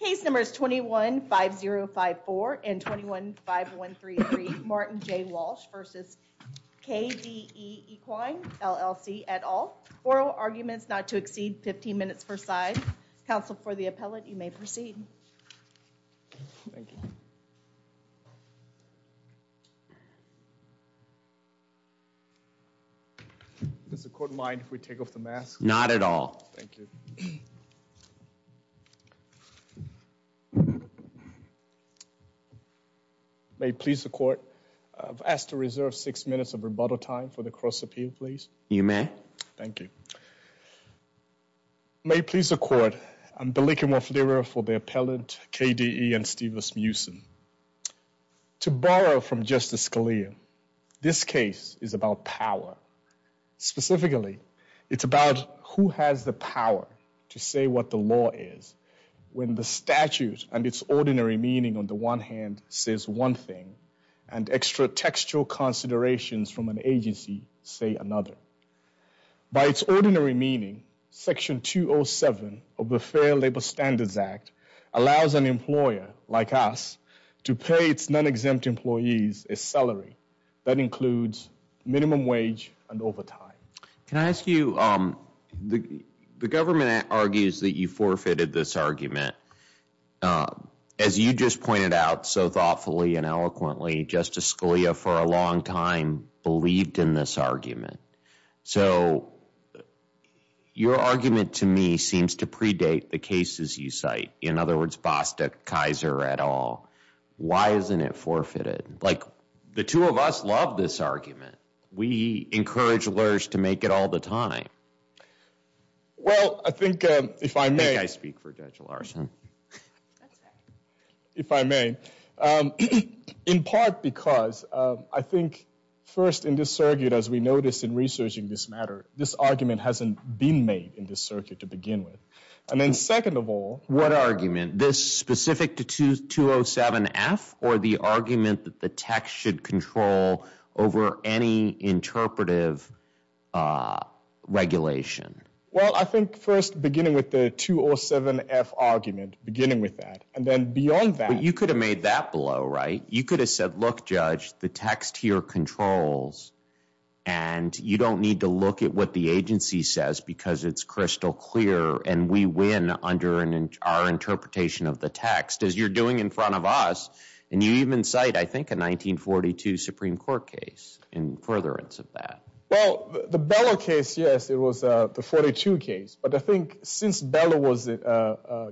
Case numbers 21-5054 and 21-5133 Martin J Walsh v. KDE Equine LLC et al. Oral arguments not to exceed 15 minutes per side. Counsel for the appellate, you may proceed. Thank you. Does the court mind if we take off the mask? Not at all. Thank you. May it please the court, I've asked to reserve six minutes of rebuttal time for the cross-appeal, please. You may. Thank you. May it please the court, I'm Biliki Moflira for the appellate, KDE and Stevens Mewson. To borrow from Justice Scalia, this case is about power. Specifically, it's about who has the power to say what the law is when the statute and its ordinary meaning on the one hand says one thing and extra textual considerations from an agency say another. By its ordinary meaning, Section 207 of the Fair Labor Standards Act allows an employer, like us, to pay its non-exempt employees a salary that includes minimum wage and overtime. Can I ask you, the government argues that you forfeited this argument. As you just pointed out so thoughtfully and eloquently, Justice Scalia for a long time believed in this argument. So, your argument to me seems to predate the cases you cite. In other words, Bostick, Kaiser et al. Why isn't it forfeited? Like, the two of us love this argument. We encourage lawyers to make it all the time. Well, I think, if I may. I think I speak for Judge Larson. If I may. In part, because I think first in this circuit, as we noticed in researching this matter, this argument hasn't been made in this circuit to begin with. And then second of all. What argument? This specific to 207-F? Or the argument that the text should control over any interpretive regulation? Well, I think first beginning with the 207-F argument. Beginning with that. And then beyond that. You could have made that below, right? You could have said, look, Judge. The text here controls. And you don't need to look at what the agency says because it's crystal clear. And we win under our interpretation of the text. As you're doing in front of us. And you even cite, I think, a 1942 Supreme Court case in furtherance of that. Well, the Beller case, yes. It was the 42 case. But I think since Beller was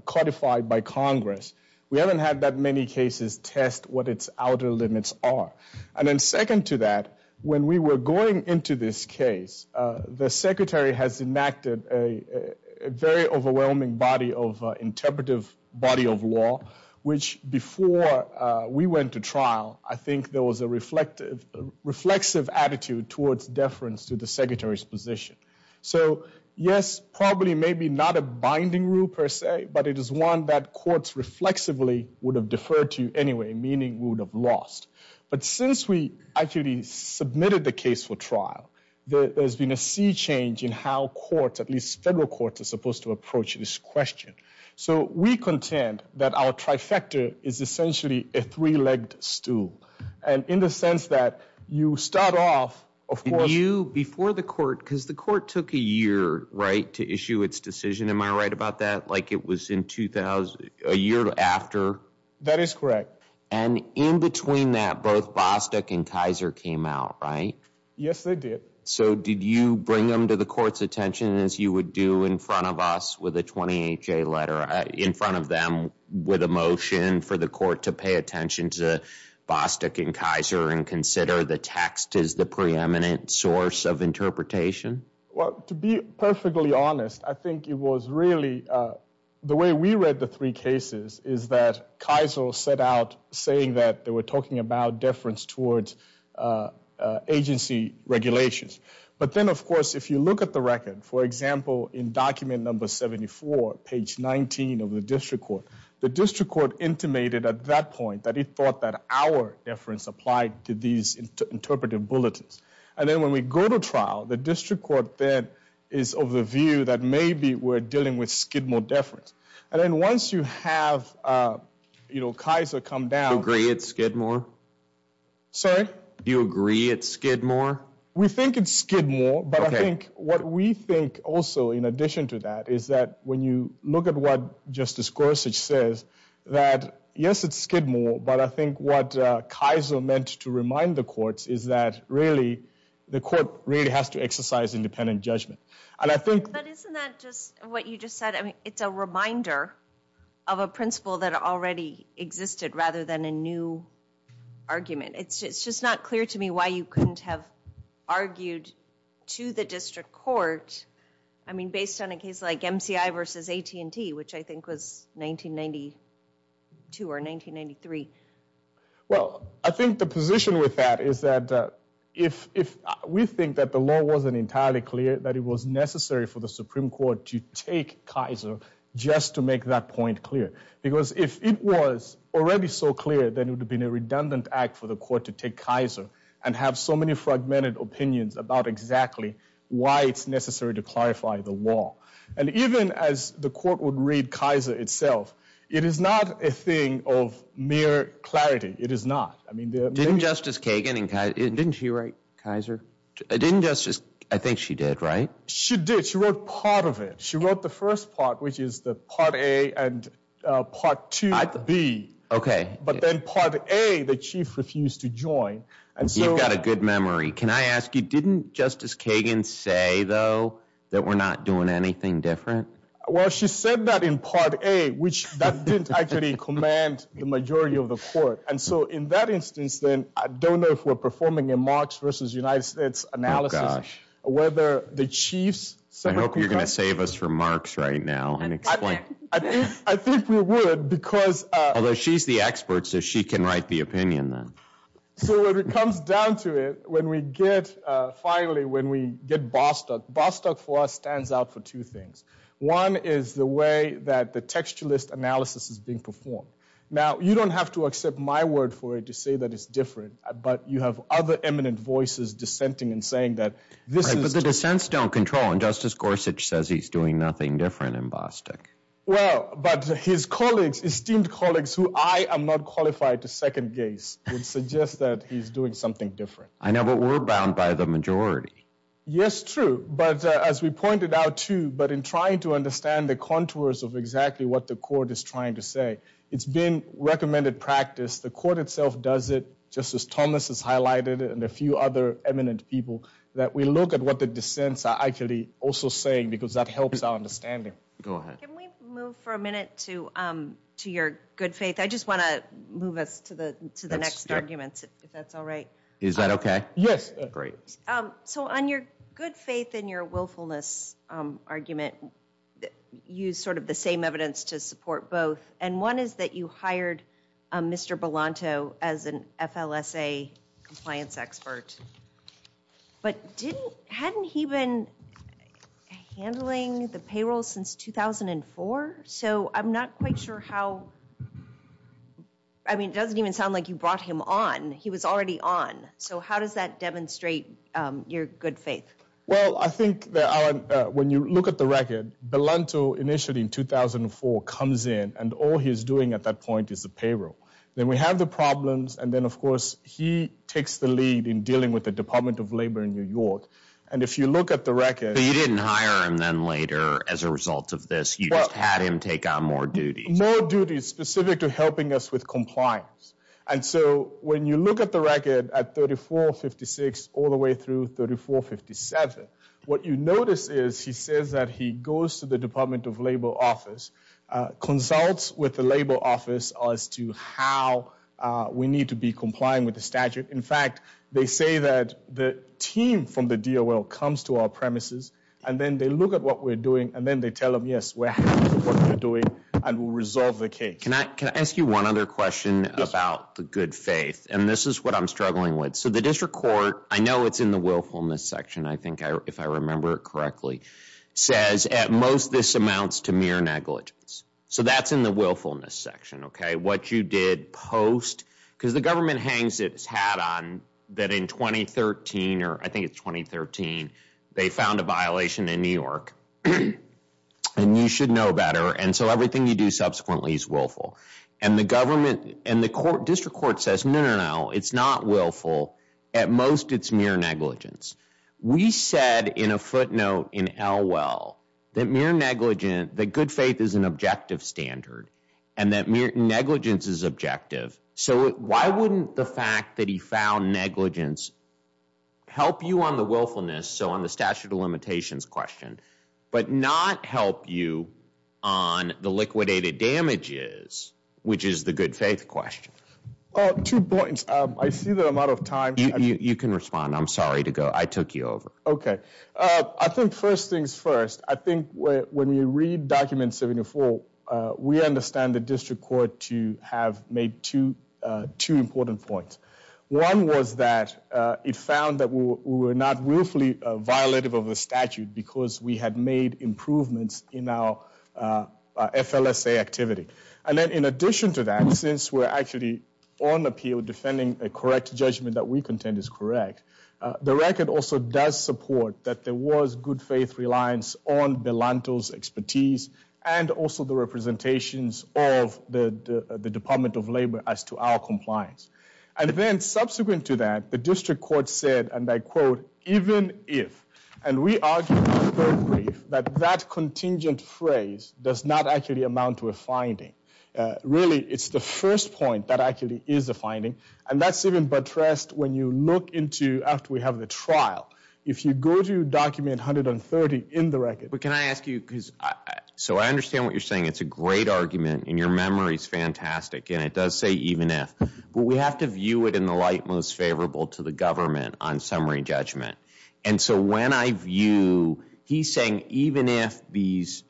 codified by Congress, we haven't had that many cases test what its outer limits are. And then second to that. When we were going into this case, the Secretary has enacted a very overwhelming body of interpretive body of law. Which before we went to trial, I think there was a reflexive attitude towards deference to the Secretary's position. So yes, probably maybe not a binding rule per se. But it is one that courts reflexively would have deferred to anyway. Meaning we would have lost. But since we actually submitted the case for trial, there's been a sea change in how courts, at least federal courts, are supposed to approach this question. So we contend that our trifecta is essentially a three-legged stool. And in the sense that you start off, of course- You, before the court, because the court took a year, right, to issue its decision. Am I right about that? Like it was in 2000, a year after. That is correct. And in between that, both Bostick and Kaiser came out, right? Yes, they did. So did you bring them to the court's attention as you would do in front of us with a 28-J letter? In front of them with a motion for the court to pay attention to Bostick and Kaiser and consider the text as the preeminent source of interpretation? Well, to be perfectly honest, I think it was really- saying that they were talking about deference towards agency regulations. But then, of course, if you look at the record, for example, in document number 74, page 19 of the district court, the district court intimated at that point that it thought that our deference applied to these interpretive bulletins. And then when we go to trial, the district court then is of the view that maybe we're dealing with skid more deference. And then once you have Kaiser come down- Do you agree it's skid more? Sorry? Do you agree it's skid more? We think it's skid more. But I think what we think also, in addition to that, is that when you look at what Justice Gorsuch says, that yes, it's skid more. But I think what Kaiser meant to remind the courts is that really, the court really has to exercise independent judgment. And I think- I think it's a reminder of a principle that already existed rather than a new argument. It's just not clear to me why you couldn't have argued to the district court, I mean, based on a case like MCI versus AT&T, which I think was 1992 or 1993. Well, I think the position with that is that if we think that the law wasn't entirely clear, that it was necessary for the Supreme Court to take Kaiser just to make that point clear. Because if it was already so clear, then it would have been a redundant act for the court to take Kaiser and have so many fragmented opinions about exactly why it's necessary to clarify the law. And even as the court would read Kaiser itself, it is not a thing of mere clarity. It is not. I mean- Didn't Justice Kagan and Kaiser- Didn't she write Kaiser? Didn't Justice- I think she did, right? She did. She wrote part of it. She wrote the first part, which is the Part A and Part 2 B. OK. But then Part A, the chief refused to join. And so- You've got a good memory. Can I ask you, didn't Justice Kagan say, though, that we're not doing anything different? Well, she said that in Part A, which that didn't actually command the majority of the court. And so in that instance, then, I don't know if we're performing a Marx versus United States analysis, whether the chiefs- I hope you're going to save us from Marx right now and explain- I think we would, because- Although she's the expert, so she can write the opinion, then. So it comes down to it, when we get, finally, when we get Bostock, Bostock for us stands out for two things. One is the way that the textualist analysis is being performed. Now, you don't have to accept my word for it to say that it's different. But you have other eminent voices dissenting and saying that this is- Right, but the dissents don't control. And Justice Gorsuch says he's doing nothing different in Bostock. Well, but his colleagues, esteemed colleagues, who I am not qualified to second-guess, would suggest that he's doing something different. I know, but we're bound by the majority. Yes, true. But as we pointed out, too, but in trying to understand the contours of exactly what the court is trying to say, it's been recommended practice. The court itself does it, Justice Thomas has highlighted it, and a few other eminent people, that we look at what the dissents are actually also saying, because that helps our understanding. Go ahead. Can we move for a minute to your good faith? I just want to move us to the next arguments, if that's all right. Is that okay? Yes. Great. So on your good faith and your willfulness argument, use sort of the same evidence to support both. And one is that you hired Mr. Belanto as an FLSA compliance expert. But hadn't he been handling the payroll since 2004? So I'm not quite sure how, I mean, it doesn't even sound like you brought him on. He was already on. So how does that demonstrate your good faith? Well, I think that when you look at the record, Belanto initially in 2004 comes in, and all he's doing at that point is the payroll. Then we have the problems, and then, of course, he takes the lead in dealing with the Department of Labor in New York. And if you look at the record- But you didn't hire him then later as a result of this. You just had him take on more duties. More duties specific to helping us with compliance. And so when you look at the record at 3456 all the way through 3457, what you notice is he says that he goes to the Department of Labor office, consults with the Labor office as to how we need to be complying with the statute. In fact, they say that the team from the DOL comes to our premises, and then they look at what we're doing, and then they tell them, yes, we're happy with what you're doing, and we'll resolve the case. Can I ask you one other question about the good faith? And this is what I'm struggling with. So the district court, I know it's in the willfulness section, I think, if I remember correctly, says at most this amounts to mere negligence. So that's in the willfulness section, okay? What you did post, because the government hangs its hat on that in 2013, or I think it's 2013, they found a violation in New York. And you should know better. And so everything you do subsequently is willful. And the district court says, no, no, no, it's not willful. At most, it's mere negligence. We said in a footnote in Elwell that mere negligence, that good faith is an objective standard, and that negligence is objective. So why wouldn't the fact that he found negligence help you on the willfulness, so on the statute of limitations question, but not help you on the liquidated damages, which is the good faith question? Oh, two points. I see that I'm out of time. You can respond. I'm sorry to go. I took you over. Okay. I think first things first. I think when you read document 74, we understand the district court to have made two important points. One was that it found that we were not willfully violative of the statute because we had made improvements in our FLSA activity. And then in addition to that, since we're actually on appeal defending a correct judgment that we contend is correct, the record also does support that there was good faith reliance on Belanto's expertise and also the representations of the Department of Labor as to our compliance. And then subsequent to that, the district court said, and I quote, even if, and we argue in the third brief, that that contingent phrase does not actually amount to a finding. Really, it's the first point that actually is a finding. And that's even buttressed when you look into after we have the trial. If you go to document 130 in the record. But can I ask you, because so I understand what you're saying. It's a great argument, and your memory is fantastic, and it does say even if. But we have to view it in the light most favorable to the government on summary judgment. And so when I view, he's saying, even if these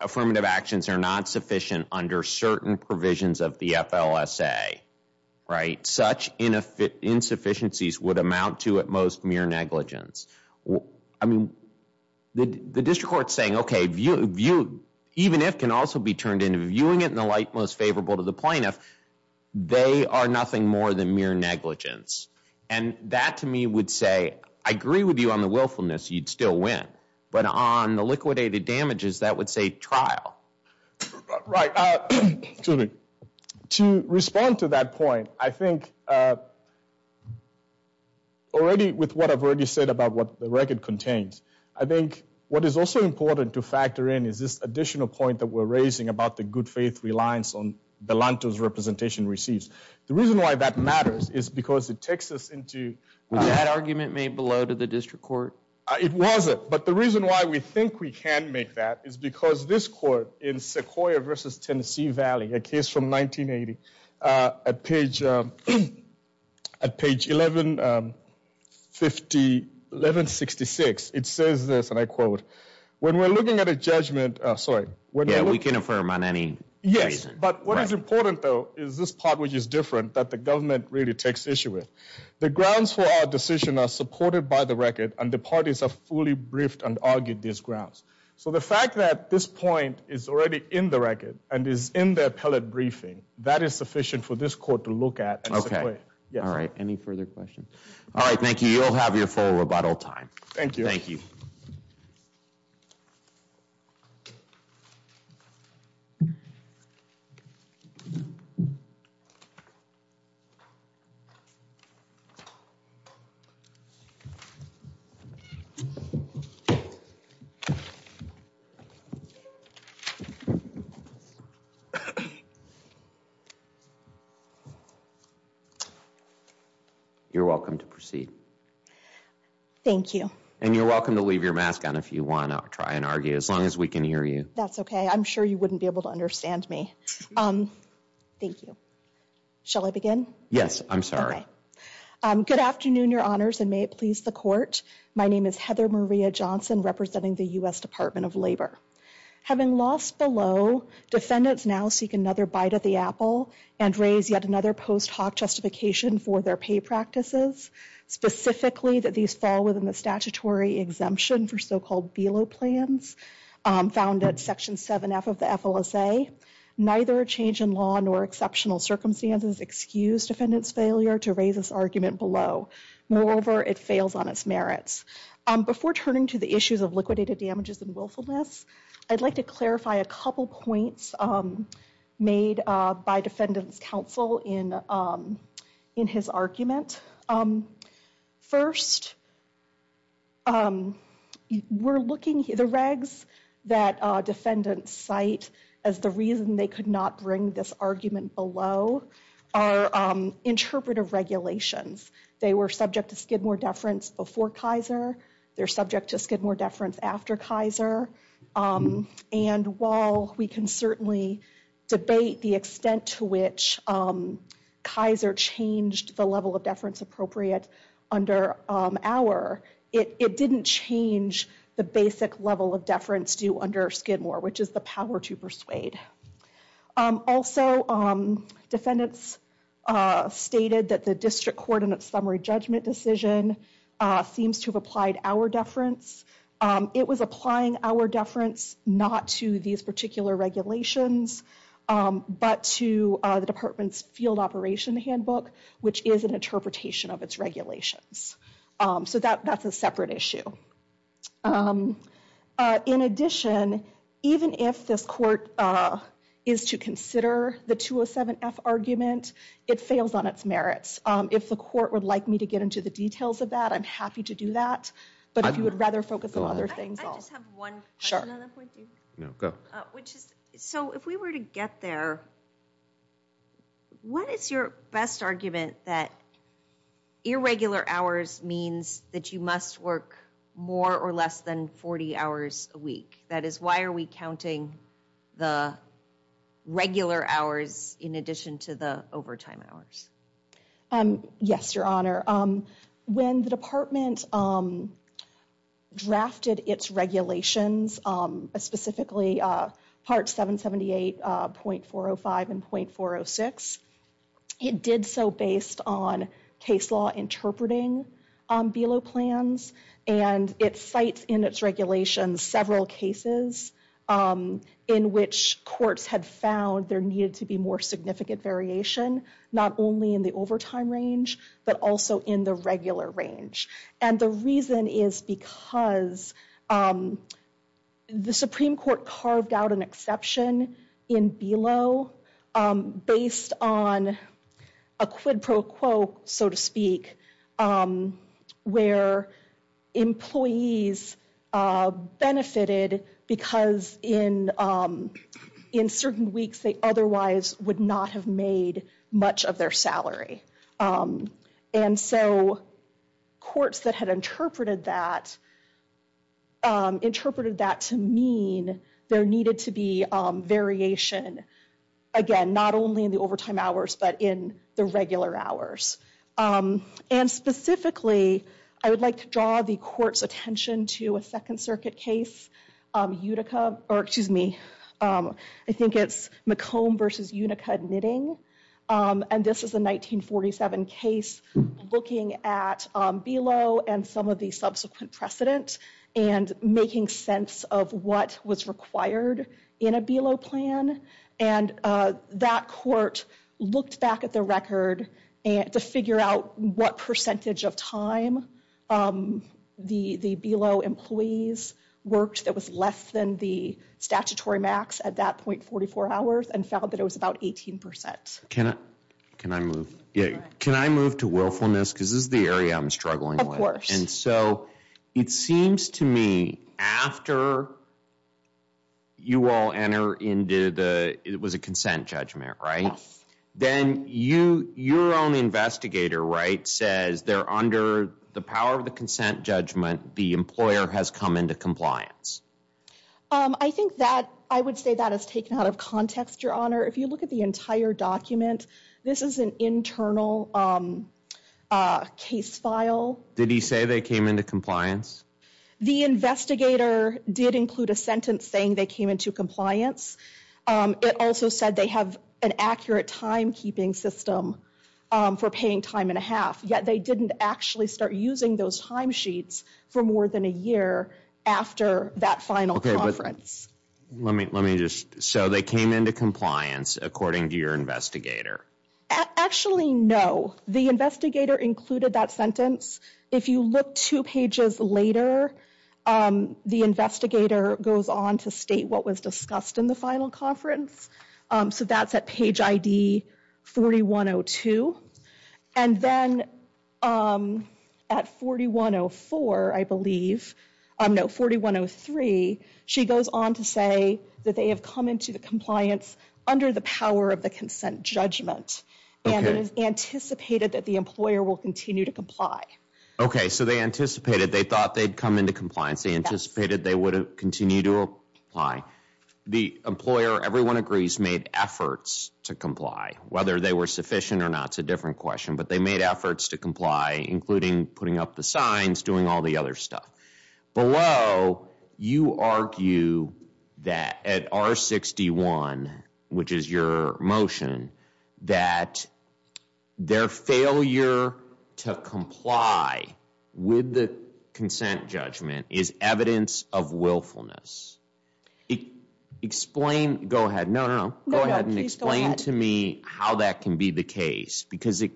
affirmative actions are not sufficient under certain provisions of the FLSA, right? Such insufficiencies would amount to, at most, mere negligence. I mean, the district court's saying, OK, even if can also be turned into viewing it in the light most favorable to the plaintiff. They are nothing more than mere negligence. And that, to me, would say, I agree with you on the willfulness. You'd still win. But on the liquidated damages, that would say trial. Right. To respond to that point, I think already with what I've already said about what the record contains. I think what is also important to factor in is this additional point that we're raising about the good faith reliance on Belanto's representation receives. The reason why that matters is because it takes us into... Was that argument made below to the district court? It wasn't. But the reason why we think we can make that is because this court in Sequoia versus Tennessee Valley, a case from 1980, at page 1166, it says this, and I quote, when we're looking at a judgment... Sorry. Yeah, we can affirm on any... Yes. But what is important, though, is this part which is different that the government really takes issue with. The grounds for our decision are supported by the record, and the parties have fully briefed and argued these grounds. So the fact that this point is already in the record and is in the appellate briefing, that is sufficient for this court to look at. Okay. All right. Any further questions? All right. Thank you. You'll have your full rebuttal time. Thank you. Okay. You're welcome to proceed. Thank you. And you're welcome to leave your mask on if you want. I'll try and argue as long as we can hear you. That's okay. I'm sure you wouldn't be able to understand me. Um, thank you. Shall I begin? Yes, I'm sorry. Good afternoon, your honors, and may it please the court. My name is Heather Maria Johnson, representing the U.S. Department of Labor. Having lost below, defendants now seek another bite of the apple and raise yet another post hoc justification for their pay practices, specifically that these fall within the statutory exemption for so-called BELO plans found at section 7f of the FLSA. Neither change in law nor exceptional circumstances excuse defendant's failure to raise this argument below. Moreover, it fails on its merits. Before turning to the issues of liquidated damages and willfulness, I'd like to clarify a couple points made by defendant's counsel in his argument. Um, first, um, we're looking at the regs that defendants cite as the reason they could not bring this argument below are interpretive regulations. They were subject to Skidmore deference before Kaiser. They're subject to Skidmore deference after Kaiser. And while we can certainly debate the extent to which Kaiser changed the level of deference appropriate under our, it didn't change the basic level of deference due under Skidmore, which is the power to persuade. Also, defendants stated that the district coordinate summary judgment decision seems to have applied our deference. It was applying our deference not to these particular regulations, um, but to the department's field operation handbook, which is an interpretation of its regulations. Um, so that, that's a separate issue. Um, uh, in addition, even if this court, uh, is to consider the 207-F argument, it fails on its merits. Um, if the court would like me to get into the details of that, I'm happy to do that. But if you would rather focus on other things. I just have one. Sure. No, go. Which is, so if we were to get there, what is your best argument that irregular hours means that you must work more or less than 40 hours a week? That is, why are we counting the regular hours in addition to the overtime hours? Um, yes, your honor. Um, when the department, um, drafted its regulations, um, specifically, uh, part 778, uh, .405 and .406, it did so based on case law interpreting, um, BELO plans. And it cites in its regulations several cases, um, in which courts had found there needed to be more significant variation, not only in the overtime range, but also in the regular range. And the reason is because, um, the Supreme Court carved out an exception in BELO, um, based on a quid pro quo, so to speak, um, where employees, uh, benefited because in, um, in certain weeks they otherwise would not have made much of their salary. Um, and so courts that had interpreted that, um, interpreted that to mean there needed to be, um, variation, again, not only in the overtime hours, but in the regular hours. Um, and specifically, I would like to draw the court's attention to a Second Circuit case, um, Utica, or excuse me, um, I think it's McComb versus Unica knitting. Um, and this is a 1947 case looking at, um, BELO and some of the subsequent precedent and making sense of what was required in a BELO plan. And, uh, that court looked back at the record to figure out what percentage of time, um, the, the BELO employees worked that was less than the statutory max at that point, and found that it was about 18%. Can I, can I move, yeah, can I move to willfulness? Because this is the area I'm struggling with. Of course. And so it seems to me after you all enter into the, it was a consent judgment, right? Then you, your own investigator, right, says they're under the power of the consent judgment, the employer has come into compliance. Um, I think that, I would say that is taken out of context, Your Honor. If you look at the entire document, this is an internal, um, uh, case file. Did he say they came into compliance? The investigator did include a sentence saying they came into compliance. Um, it also said they have an accurate timekeeping system, um, for paying time and a half. Yet they didn't actually start using those time sheets for more than a year after that final conference. Let me, let me just, so they came into compliance according to your investigator? Actually, no. The investigator included that sentence. If you look two pages later, um, the investigator goes on to state what was discussed in the final conference, um, so that's at page ID 4102. And then, um, at 4104, I believe, um, no, 4103, she goes on to say that they have come into compliance under the power of the consent judgment, and it is anticipated that the employer will continue to comply. Okay, so they anticipated, they thought they'd come into compliance, they anticipated they would continue to apply. The employer, everyone agrees, made efforts to comply, whether they were sufficient or not, it's a different question, but they made efforts to comply, including putting up the signs, doing all the other stuff. Below, you argue that at R61, which is your motion, that their failure to comply with the consent judgment is evidence of willfulness. Explain, go ahead, no, no, go ahead and explain to me how that can be the case. Because it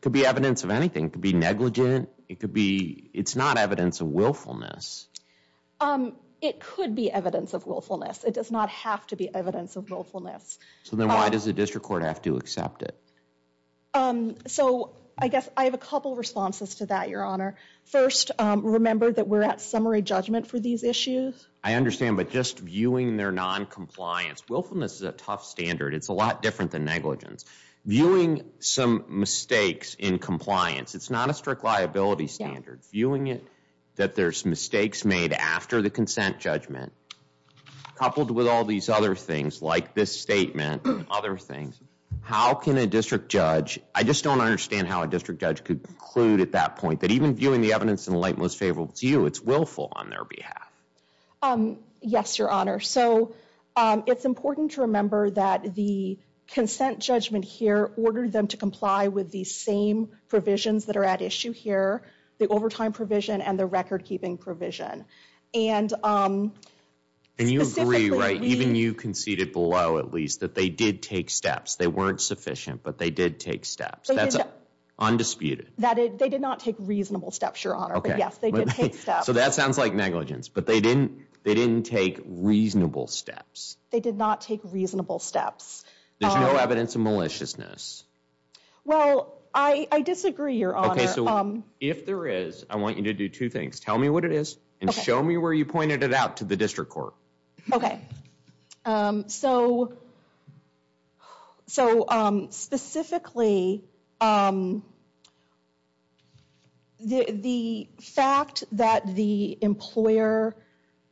could be evidence of anything, it could be negligent, it could be, it's not evidence of willfulness. Um, it could be evidence of willfulness, it does not have to be evidence of willfulness. So then why does the district court have to accept it? Um, so, I guess, I have a couple responses to that, your honor. First, um, remember that we're at summary judgment for these issues. I understand, but just viewing their non-compliance, willfulness is a tough standard, it's a lot different than negligence. Viewing some mistakes in compliance, it's not a strict liability standard. Viewing it that there's mistakes made after the consent judgment, coupled with all these other things, like this statement, other things, how can a district judge, I just don't understand how a district judge could conclude at that point, that even viewing the evidence in the light most favorable to you, it's willful on their behalf. Um, yes, your honor. So, um, it's important to remember that the consent judgment here ordered them to comply with the same provisions that are at issue here, the overtime provision and the record keeping provision. And, um, specifically, we, and you agree, right, even you conceded below, at least, that they did take steps. They weren't sufficient, but they did take steps. That's undisputed. That, they did not take reasonable steps, your honor, but yes, they did take steps. So that sounds like negligence, but they didn't, they didn't take reasonable steps. They did not take reasonable steps. There's no evidence of maliciousness. Well, I, I disagree, your honor. Okay, so if there is, I want you to do two things. Tell me what it is and show me where you pointed it out to the district court. Okay. Um, so, so, um, specifically, um, the, the fact that the employer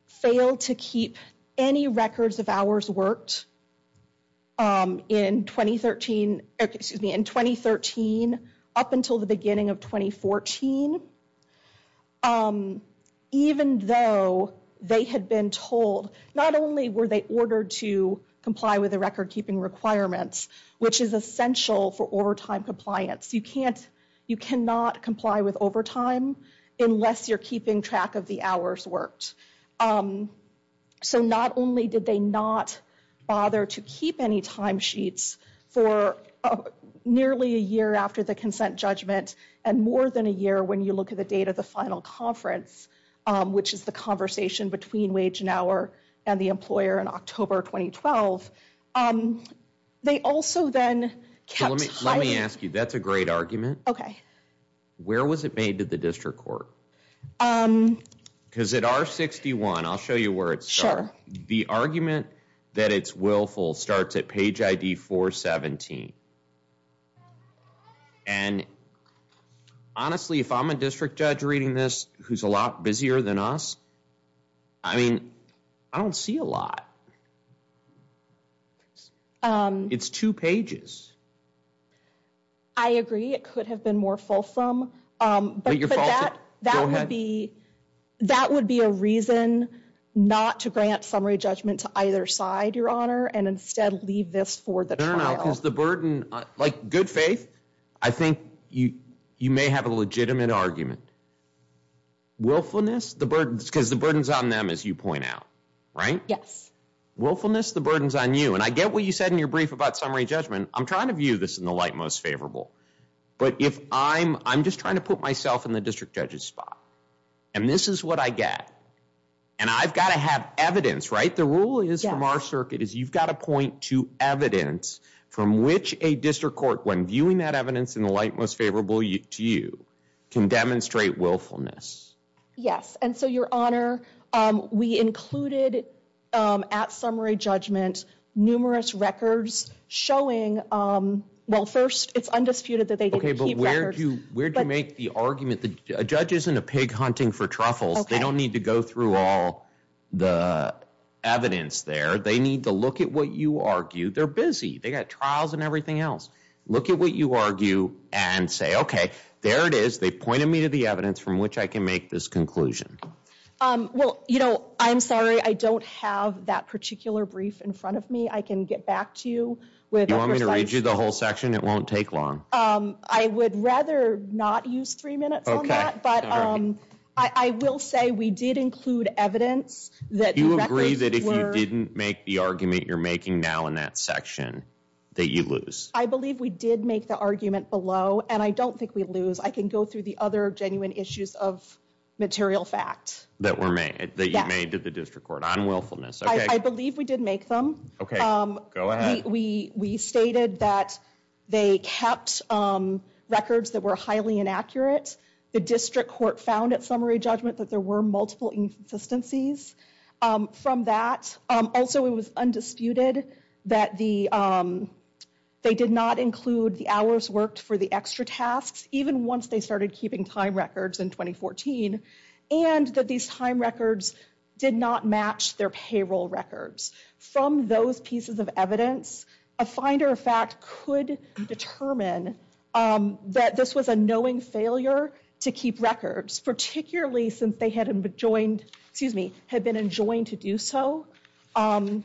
failed to keep any records of hours worked, um, in 2013, excuse me, in 2013 up until the beginning of 2014, um, even though they had been told, not only were they ordered to comply with the record keeping requirements, which is essential for overtime compliance, you can't, you cannot comply with overtime unless you're keeping track of the hours worked. Um, so not only did they not bother to keep any timesheets for nearly a year after the you look at the date of the final conference, um, which is the conversation between wage an hour and the employer in October, 2012, um, they also then kept. Let me ask you, that's a great argument. Okay. Where was it made to the district court? Um. Because at R61, I'll show you where it's. Sure. The argument that it's willful starts at page ID 417. And honestly, if I'm a district judge reading this, who's a lot busier than us, I mean, I don't see a lot. Um, it's two pages. I agree. It could have been more fulsome, um, but that, that would be, that would be a reason not to grant summary judgment to either side, your honor, and instead leave this for the burden, like good faith. I think you, you may have a legitimate argument. Willfulness, the burdens, because the burdens on them, as you point out, right? Yes. Willfulness, the burdens on you. And I get what you said in your brief about summary judgment. I'm trying to view this in the light most favorable. But if I'm, I'm just trying to put myself in the district judge's spot. And this is what I get. And I've got to have evidence, right? The rule is from our circuit is you've got to point to evidence from which a district court, when viewing that evidence in the light most favorable to you, can demonstrate willfulness. Yes. And so, your honor, um, we included, um, at summary judgment, numerous records showing, um, well, first it's undisputed that they didn't keep records. Okay, but where do, where do you make the argument that a judge isn't a pig hunting for truffles. They don't need to go through all the evidence there. They need to look at what you argue. They're busy. They got trials and everything else. Look at what you argue and say, okay, there it is. They pointed me to the evidence from which I can make this conclusion. Um, well, you know, I'm sorry. I don't have that particular brief in front of me. I can get back to you. You want me to read you the whole section? It won't take long. Um, I would rather not use three minutes on that. But, um, I will say we did include evidence that you agree that if you didn't make the argument you're making now in that section that you lose. I believe we did make the argument below and I don't think we lose. I can go through the other genuine issues of material fact that were made that you made to the district court on willfulness. I believe we did make them. Okay. Um, we, we, we stated that they kept, um, records that were highly inaccurate. The district court found at summary judgment that there were multiple insistencies, um, from that. Also, it was undisputed that the, um, they did not include the hours worked for the extra tasks, even once they started keeping time records in 2014, and that these time records did not match their payroll records. From those pieces of evidence, a finder of fact could determine, um, that this was a knowing failure to keep records, particularly since they had been joined, excuse me, had been enjoined to do so, um,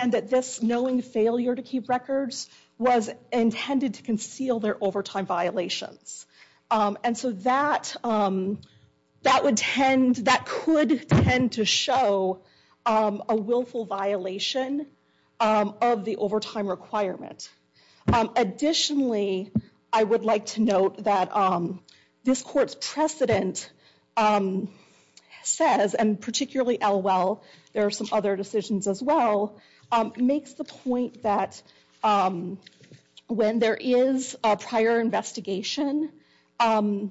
and that this knowing failure to keep records was intended to conceal their overtime violations. Um, and so that, um, that would tend, that could tend to show, um, a willful violation, um, of the overtime requirement. Um, additionally, I would like to note that, um, this court's precedent, um, says, and particularly Elwell, there are some other decisions as well, um, makes the point that, um, when there is a prior investigation, um,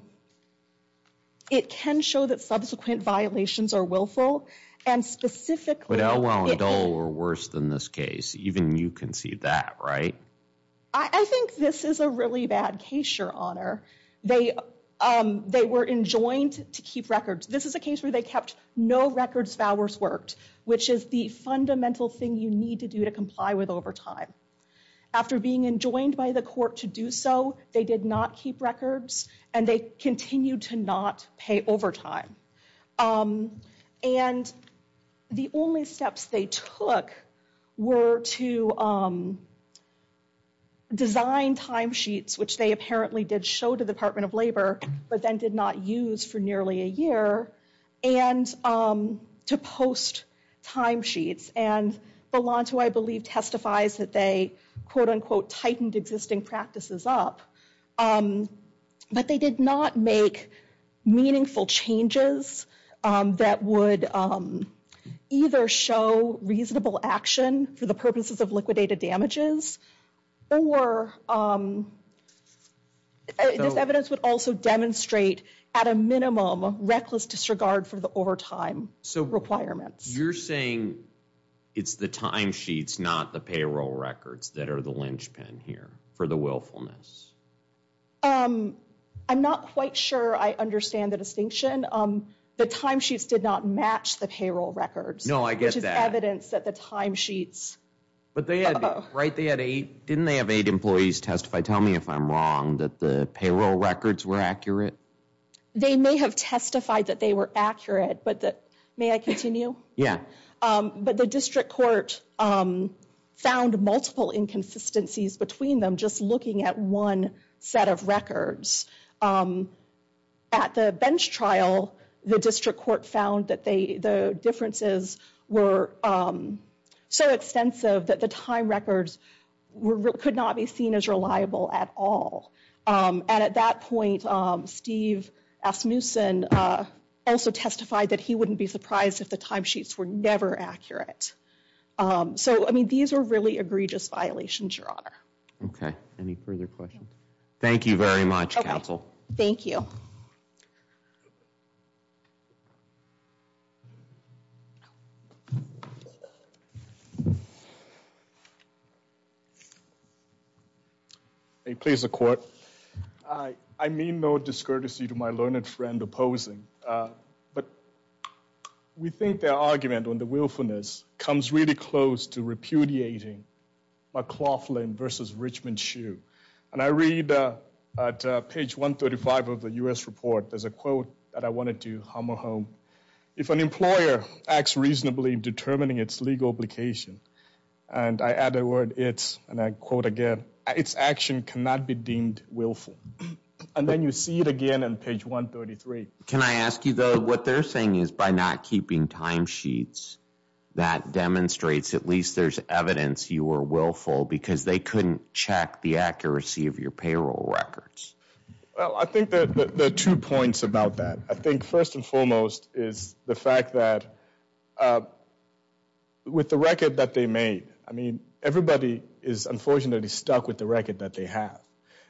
it can show that subsequent violations are willful, and specifically... I think this is a really bad case, Your Honor. They, um, they were enjoined to keep records. This is a case where they kept no records of hours worked, which is the fundamental thing you need to do to comply with overtime. After being enjoined by the court to do so, they did not keep records, and they continued to not pay overtime. Um, and the only steps they took were to, um, design timesheets, which they apparently did show to the Department of Labor, but then did not use for nearly a year, and, um, to post timesheets, and Belanto, I believe, testifies that they, quote-unquote, tightened existing practices up. Um, but they did not make meaningful changes, um, that would, um, either show reasonable action for the purposes of liquidated damages, or, um, this evidence would also demonstrate at a minimum reckless disregard for the overtime requirements. So you're saying it's the timesheets, not the payroll records, that are the linchpin here for the willfulness? Um, I'm not quite sure I understand the distinction. Um, the timesheets did not match the payroll records. No, I get that. Which is evidence that the timesheets. But they had, right, they had eight, didn't they have eight employees testify, tell me if I'm wrong, that the payroll records were accurate? They may have testified that they were accurate, but that, may I continue? Yeah. Um, but the district court, um, found multiple inconsistencies between them, just looking at one set of records. Um, at the bench trial, the district court found that they, the differences were, um, so extensive that the time records were, could not be seen as reliable at all. Um, and at that point, um, Steve Asmussen, uh, also testified that he wouldn't be surprised if the timesheets were never accurate. Um, so, I mean, these are really egregious violations, Your Honor. Okay. Any further questions? Thank you very much, counsel. Thank you. Hey, please, the court. I, I mean no discourtesy to my learned friend opposing, uh, but we think their argument on the willfulness comes really close to repudiating McLaughlin versus Richmond Shoe. And I read, uh, at, uh, page 135 of the U.S. report, there's a quote that I wanted to hum a home, if an employer acts reasonably in determining its legal obligation, and I add a word, it's, and I quote again, its action cannot be deemed willful. And then you see it again on page 133. Can I ask you, though, what they're saying is by not keeping timesheets, that demonstrates at least there's evidence you were willful because they couldn't check the accuracy of your payroll records. Well, I think that there are two points about that. I think first and foremost is the fact that, uh, with the record that they made, I mean, everybody is unfortunately stuck with the record that they have.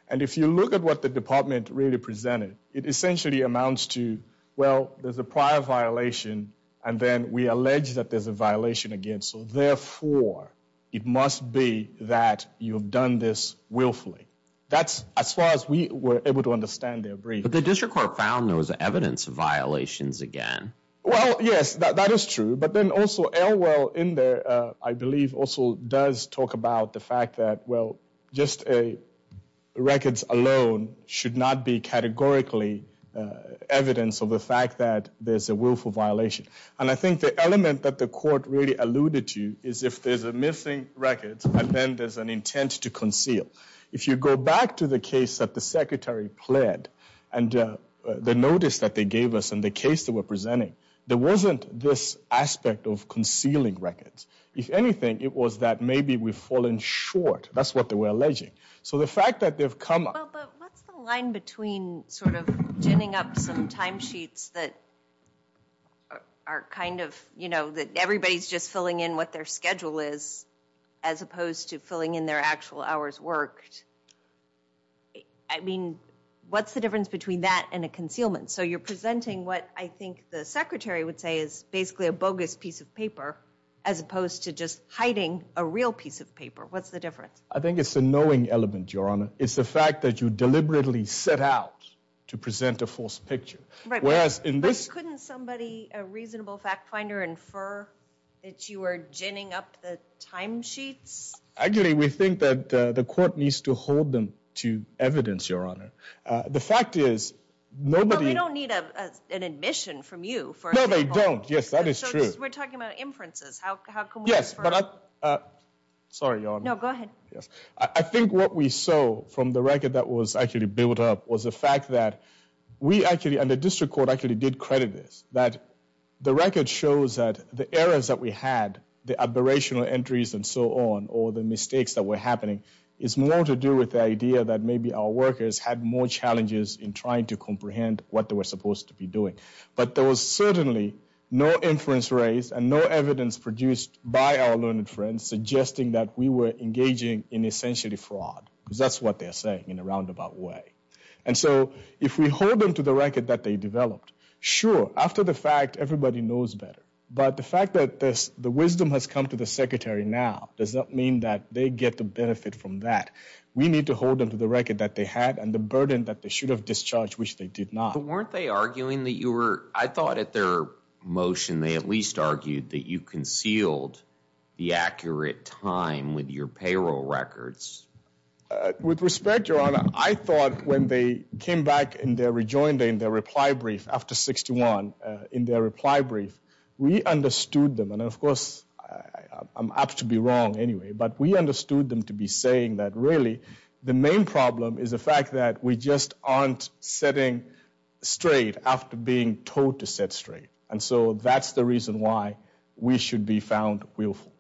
And if you look at what the department really presented, it essentially amounts to, well, there's a prior violation, and then we allege that there's a violation again. So therefore, it must be that you've done this willfully. That's as far as we were able to understand their brief. But the district court found there was evidence of violations again. Well, yes, that is true. But then also Elwell in there, uh, I believe also does talk about the fact that, well, just records alone should not be categorically evidence of the fact that there's a willful violation. And I think the element that the court really alluded to is if there's a missing record, and then there's an intent to conceal. If you go back to the case that the secretary pled, and the notice that they gave us in the case they were presenting, there wasn't this aspect of concealing records. If anything, it was that maybe we've fallen short. That's what they were alleging. So the fact that they've come up. Well, but what's the line between sort of ginning up some timesheets that are kind of, you know, that everybody's just filling in what their schedule is as opposed to filling in their actual hours worked? I mean, what's the difference between that and a concealment? So you're presenting what I think the secretary would say is basically a bogus piece of paper as opposed to just hiding a real piece of paper. What's the difference? I think it's the knowing element, Your Honor. It's the fact that you deliberately set out to present a false picture. Whereas in this... Couldn't somebody, a reasonable fact finder, infer that you were ginning up the timesheets? Actually, we think that the court needs to hold them to evidence, Your Honor. The fact is, nobody... They don't need an admission from you for... No, they don't. Yes, that is true. We're talking about inferences. How come... Yes, but I... Sorry, Your Honor. No, go ahead. Yes. I think what we saw from the record that was actually built up was the fact that we actually, and the district court actually did credit this, that the record shows that the errors that we had, the aberrational entries and so on, or the mistakes that were happening, is more to do with the idea that maybe our workers had more challenges in trying to comprehend what they were supposed to be doing. But there was certainly no inference raised and no evidence produced by our learned friends suggesting that we were engaging in essentially fraud, because that's what they're saying in a roundabout way. And so if we hold them to the record that they developed, sure, after the fact, everybody knows better. But the fact that the wisdom has come to the secretary now does not mean that they get the benefit from that. We need to hold them to the record that they had and the burden that they should have discharged, which they did not. So weren't they arguing that you were, I thought at their motion, they at least argued that you concealed the accurate time with your payroll records. With respect, your honor, I thought when they came back in their rejoinder, in their reply brief after 61, in their reply brief, we understood them. And of course, I'm apt to be wrong anyway, but we understood them to be saying that really the main problem is the fact that we just aren't setting straight after being told to set straight. And so that's the reason why we should be found willful.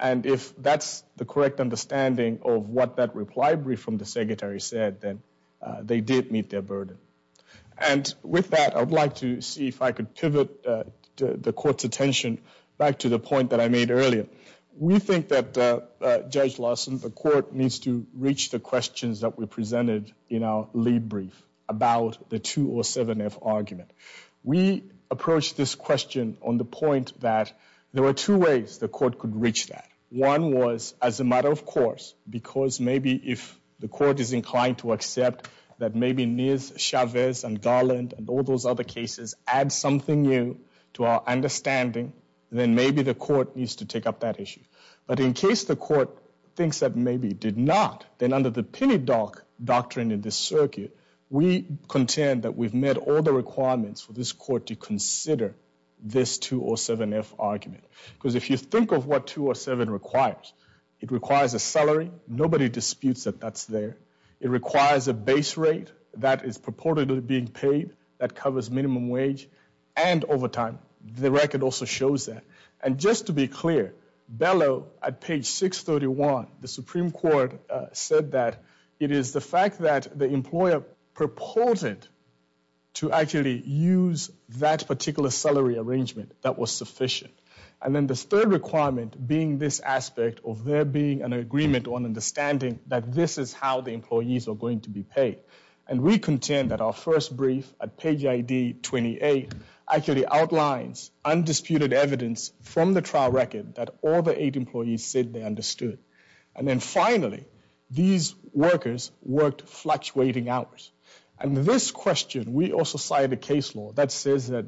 And if that's the correct understanding of what that reply brief from the secretary said, then they did meet their burden. And with that, I'd like to see if I could pivot the court's attention back to the point that I made earlier. We think that Judge Lawson, the court needs to reach the questions that were presented in our lead brief about the 2 or 7F argument. We approached this question on the point that there were two ways the court could reach that. One was as a matter of course, because maybe if the court is inclined to accept that maybe Niaz Chavez and Garland and all those other cases add something new to our understanding, then maybe the court needs to take up that issue. But in case the court thinks that maybe it did not, then under the penny dock doctrine in this circuit, we contend that we've met all the requirements for this court to consider this 2 or 7F argument. Because if you think of what 2 or 7 requires, it requires a salary. Nobody disputes that that's there. It requires a base rate that is purportedly being paid that covers minimum wage and overtime. The record also shows that. And just to be clear, Bellow at page 631, the Supreme Court said that it is the fact that the employer purported to actually use that particular salary arrangement that was sufficient. And then this third requirement being this aspect of there being an agreement on understanding that this is how the employees are going to be paid. And we contend that our first brief at page ID 28 actually outlines undisputed evidence from the trial record that all the eight employees said they understood. And then finally, these workers worked fluctuating hours. And this question, we also cited a case law that says that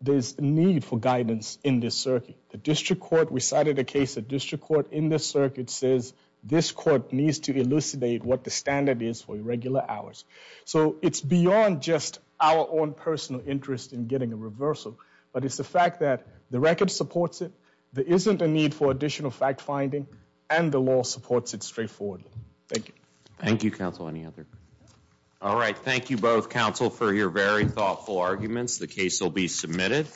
there's a need for guidance in this circuit. The district court, we cited a case that district court in this circuit says this court needs to elucidate what the standard is for irregular hours. So it's beyond just our own personal interest in getting a reversal. But it's the fact that the record supports it. There isn't a need for additional fact finding. And the law supports it straightforwardly. Thank you. Thank you, counsel. Any other? All right. Thank you both, counsel, for your very thoughtful arguments. The case will be submitted.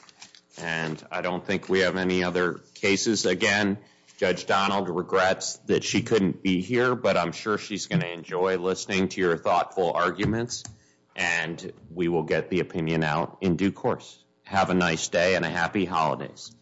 And I don't think we have any other cases. Again, Judge Donald regrets that she couldn't be here. But I'm sure she's going to enjoy listening to your thoughtful arguments. And we will get the opinion out in due course. Have a nice day and a happy holidays.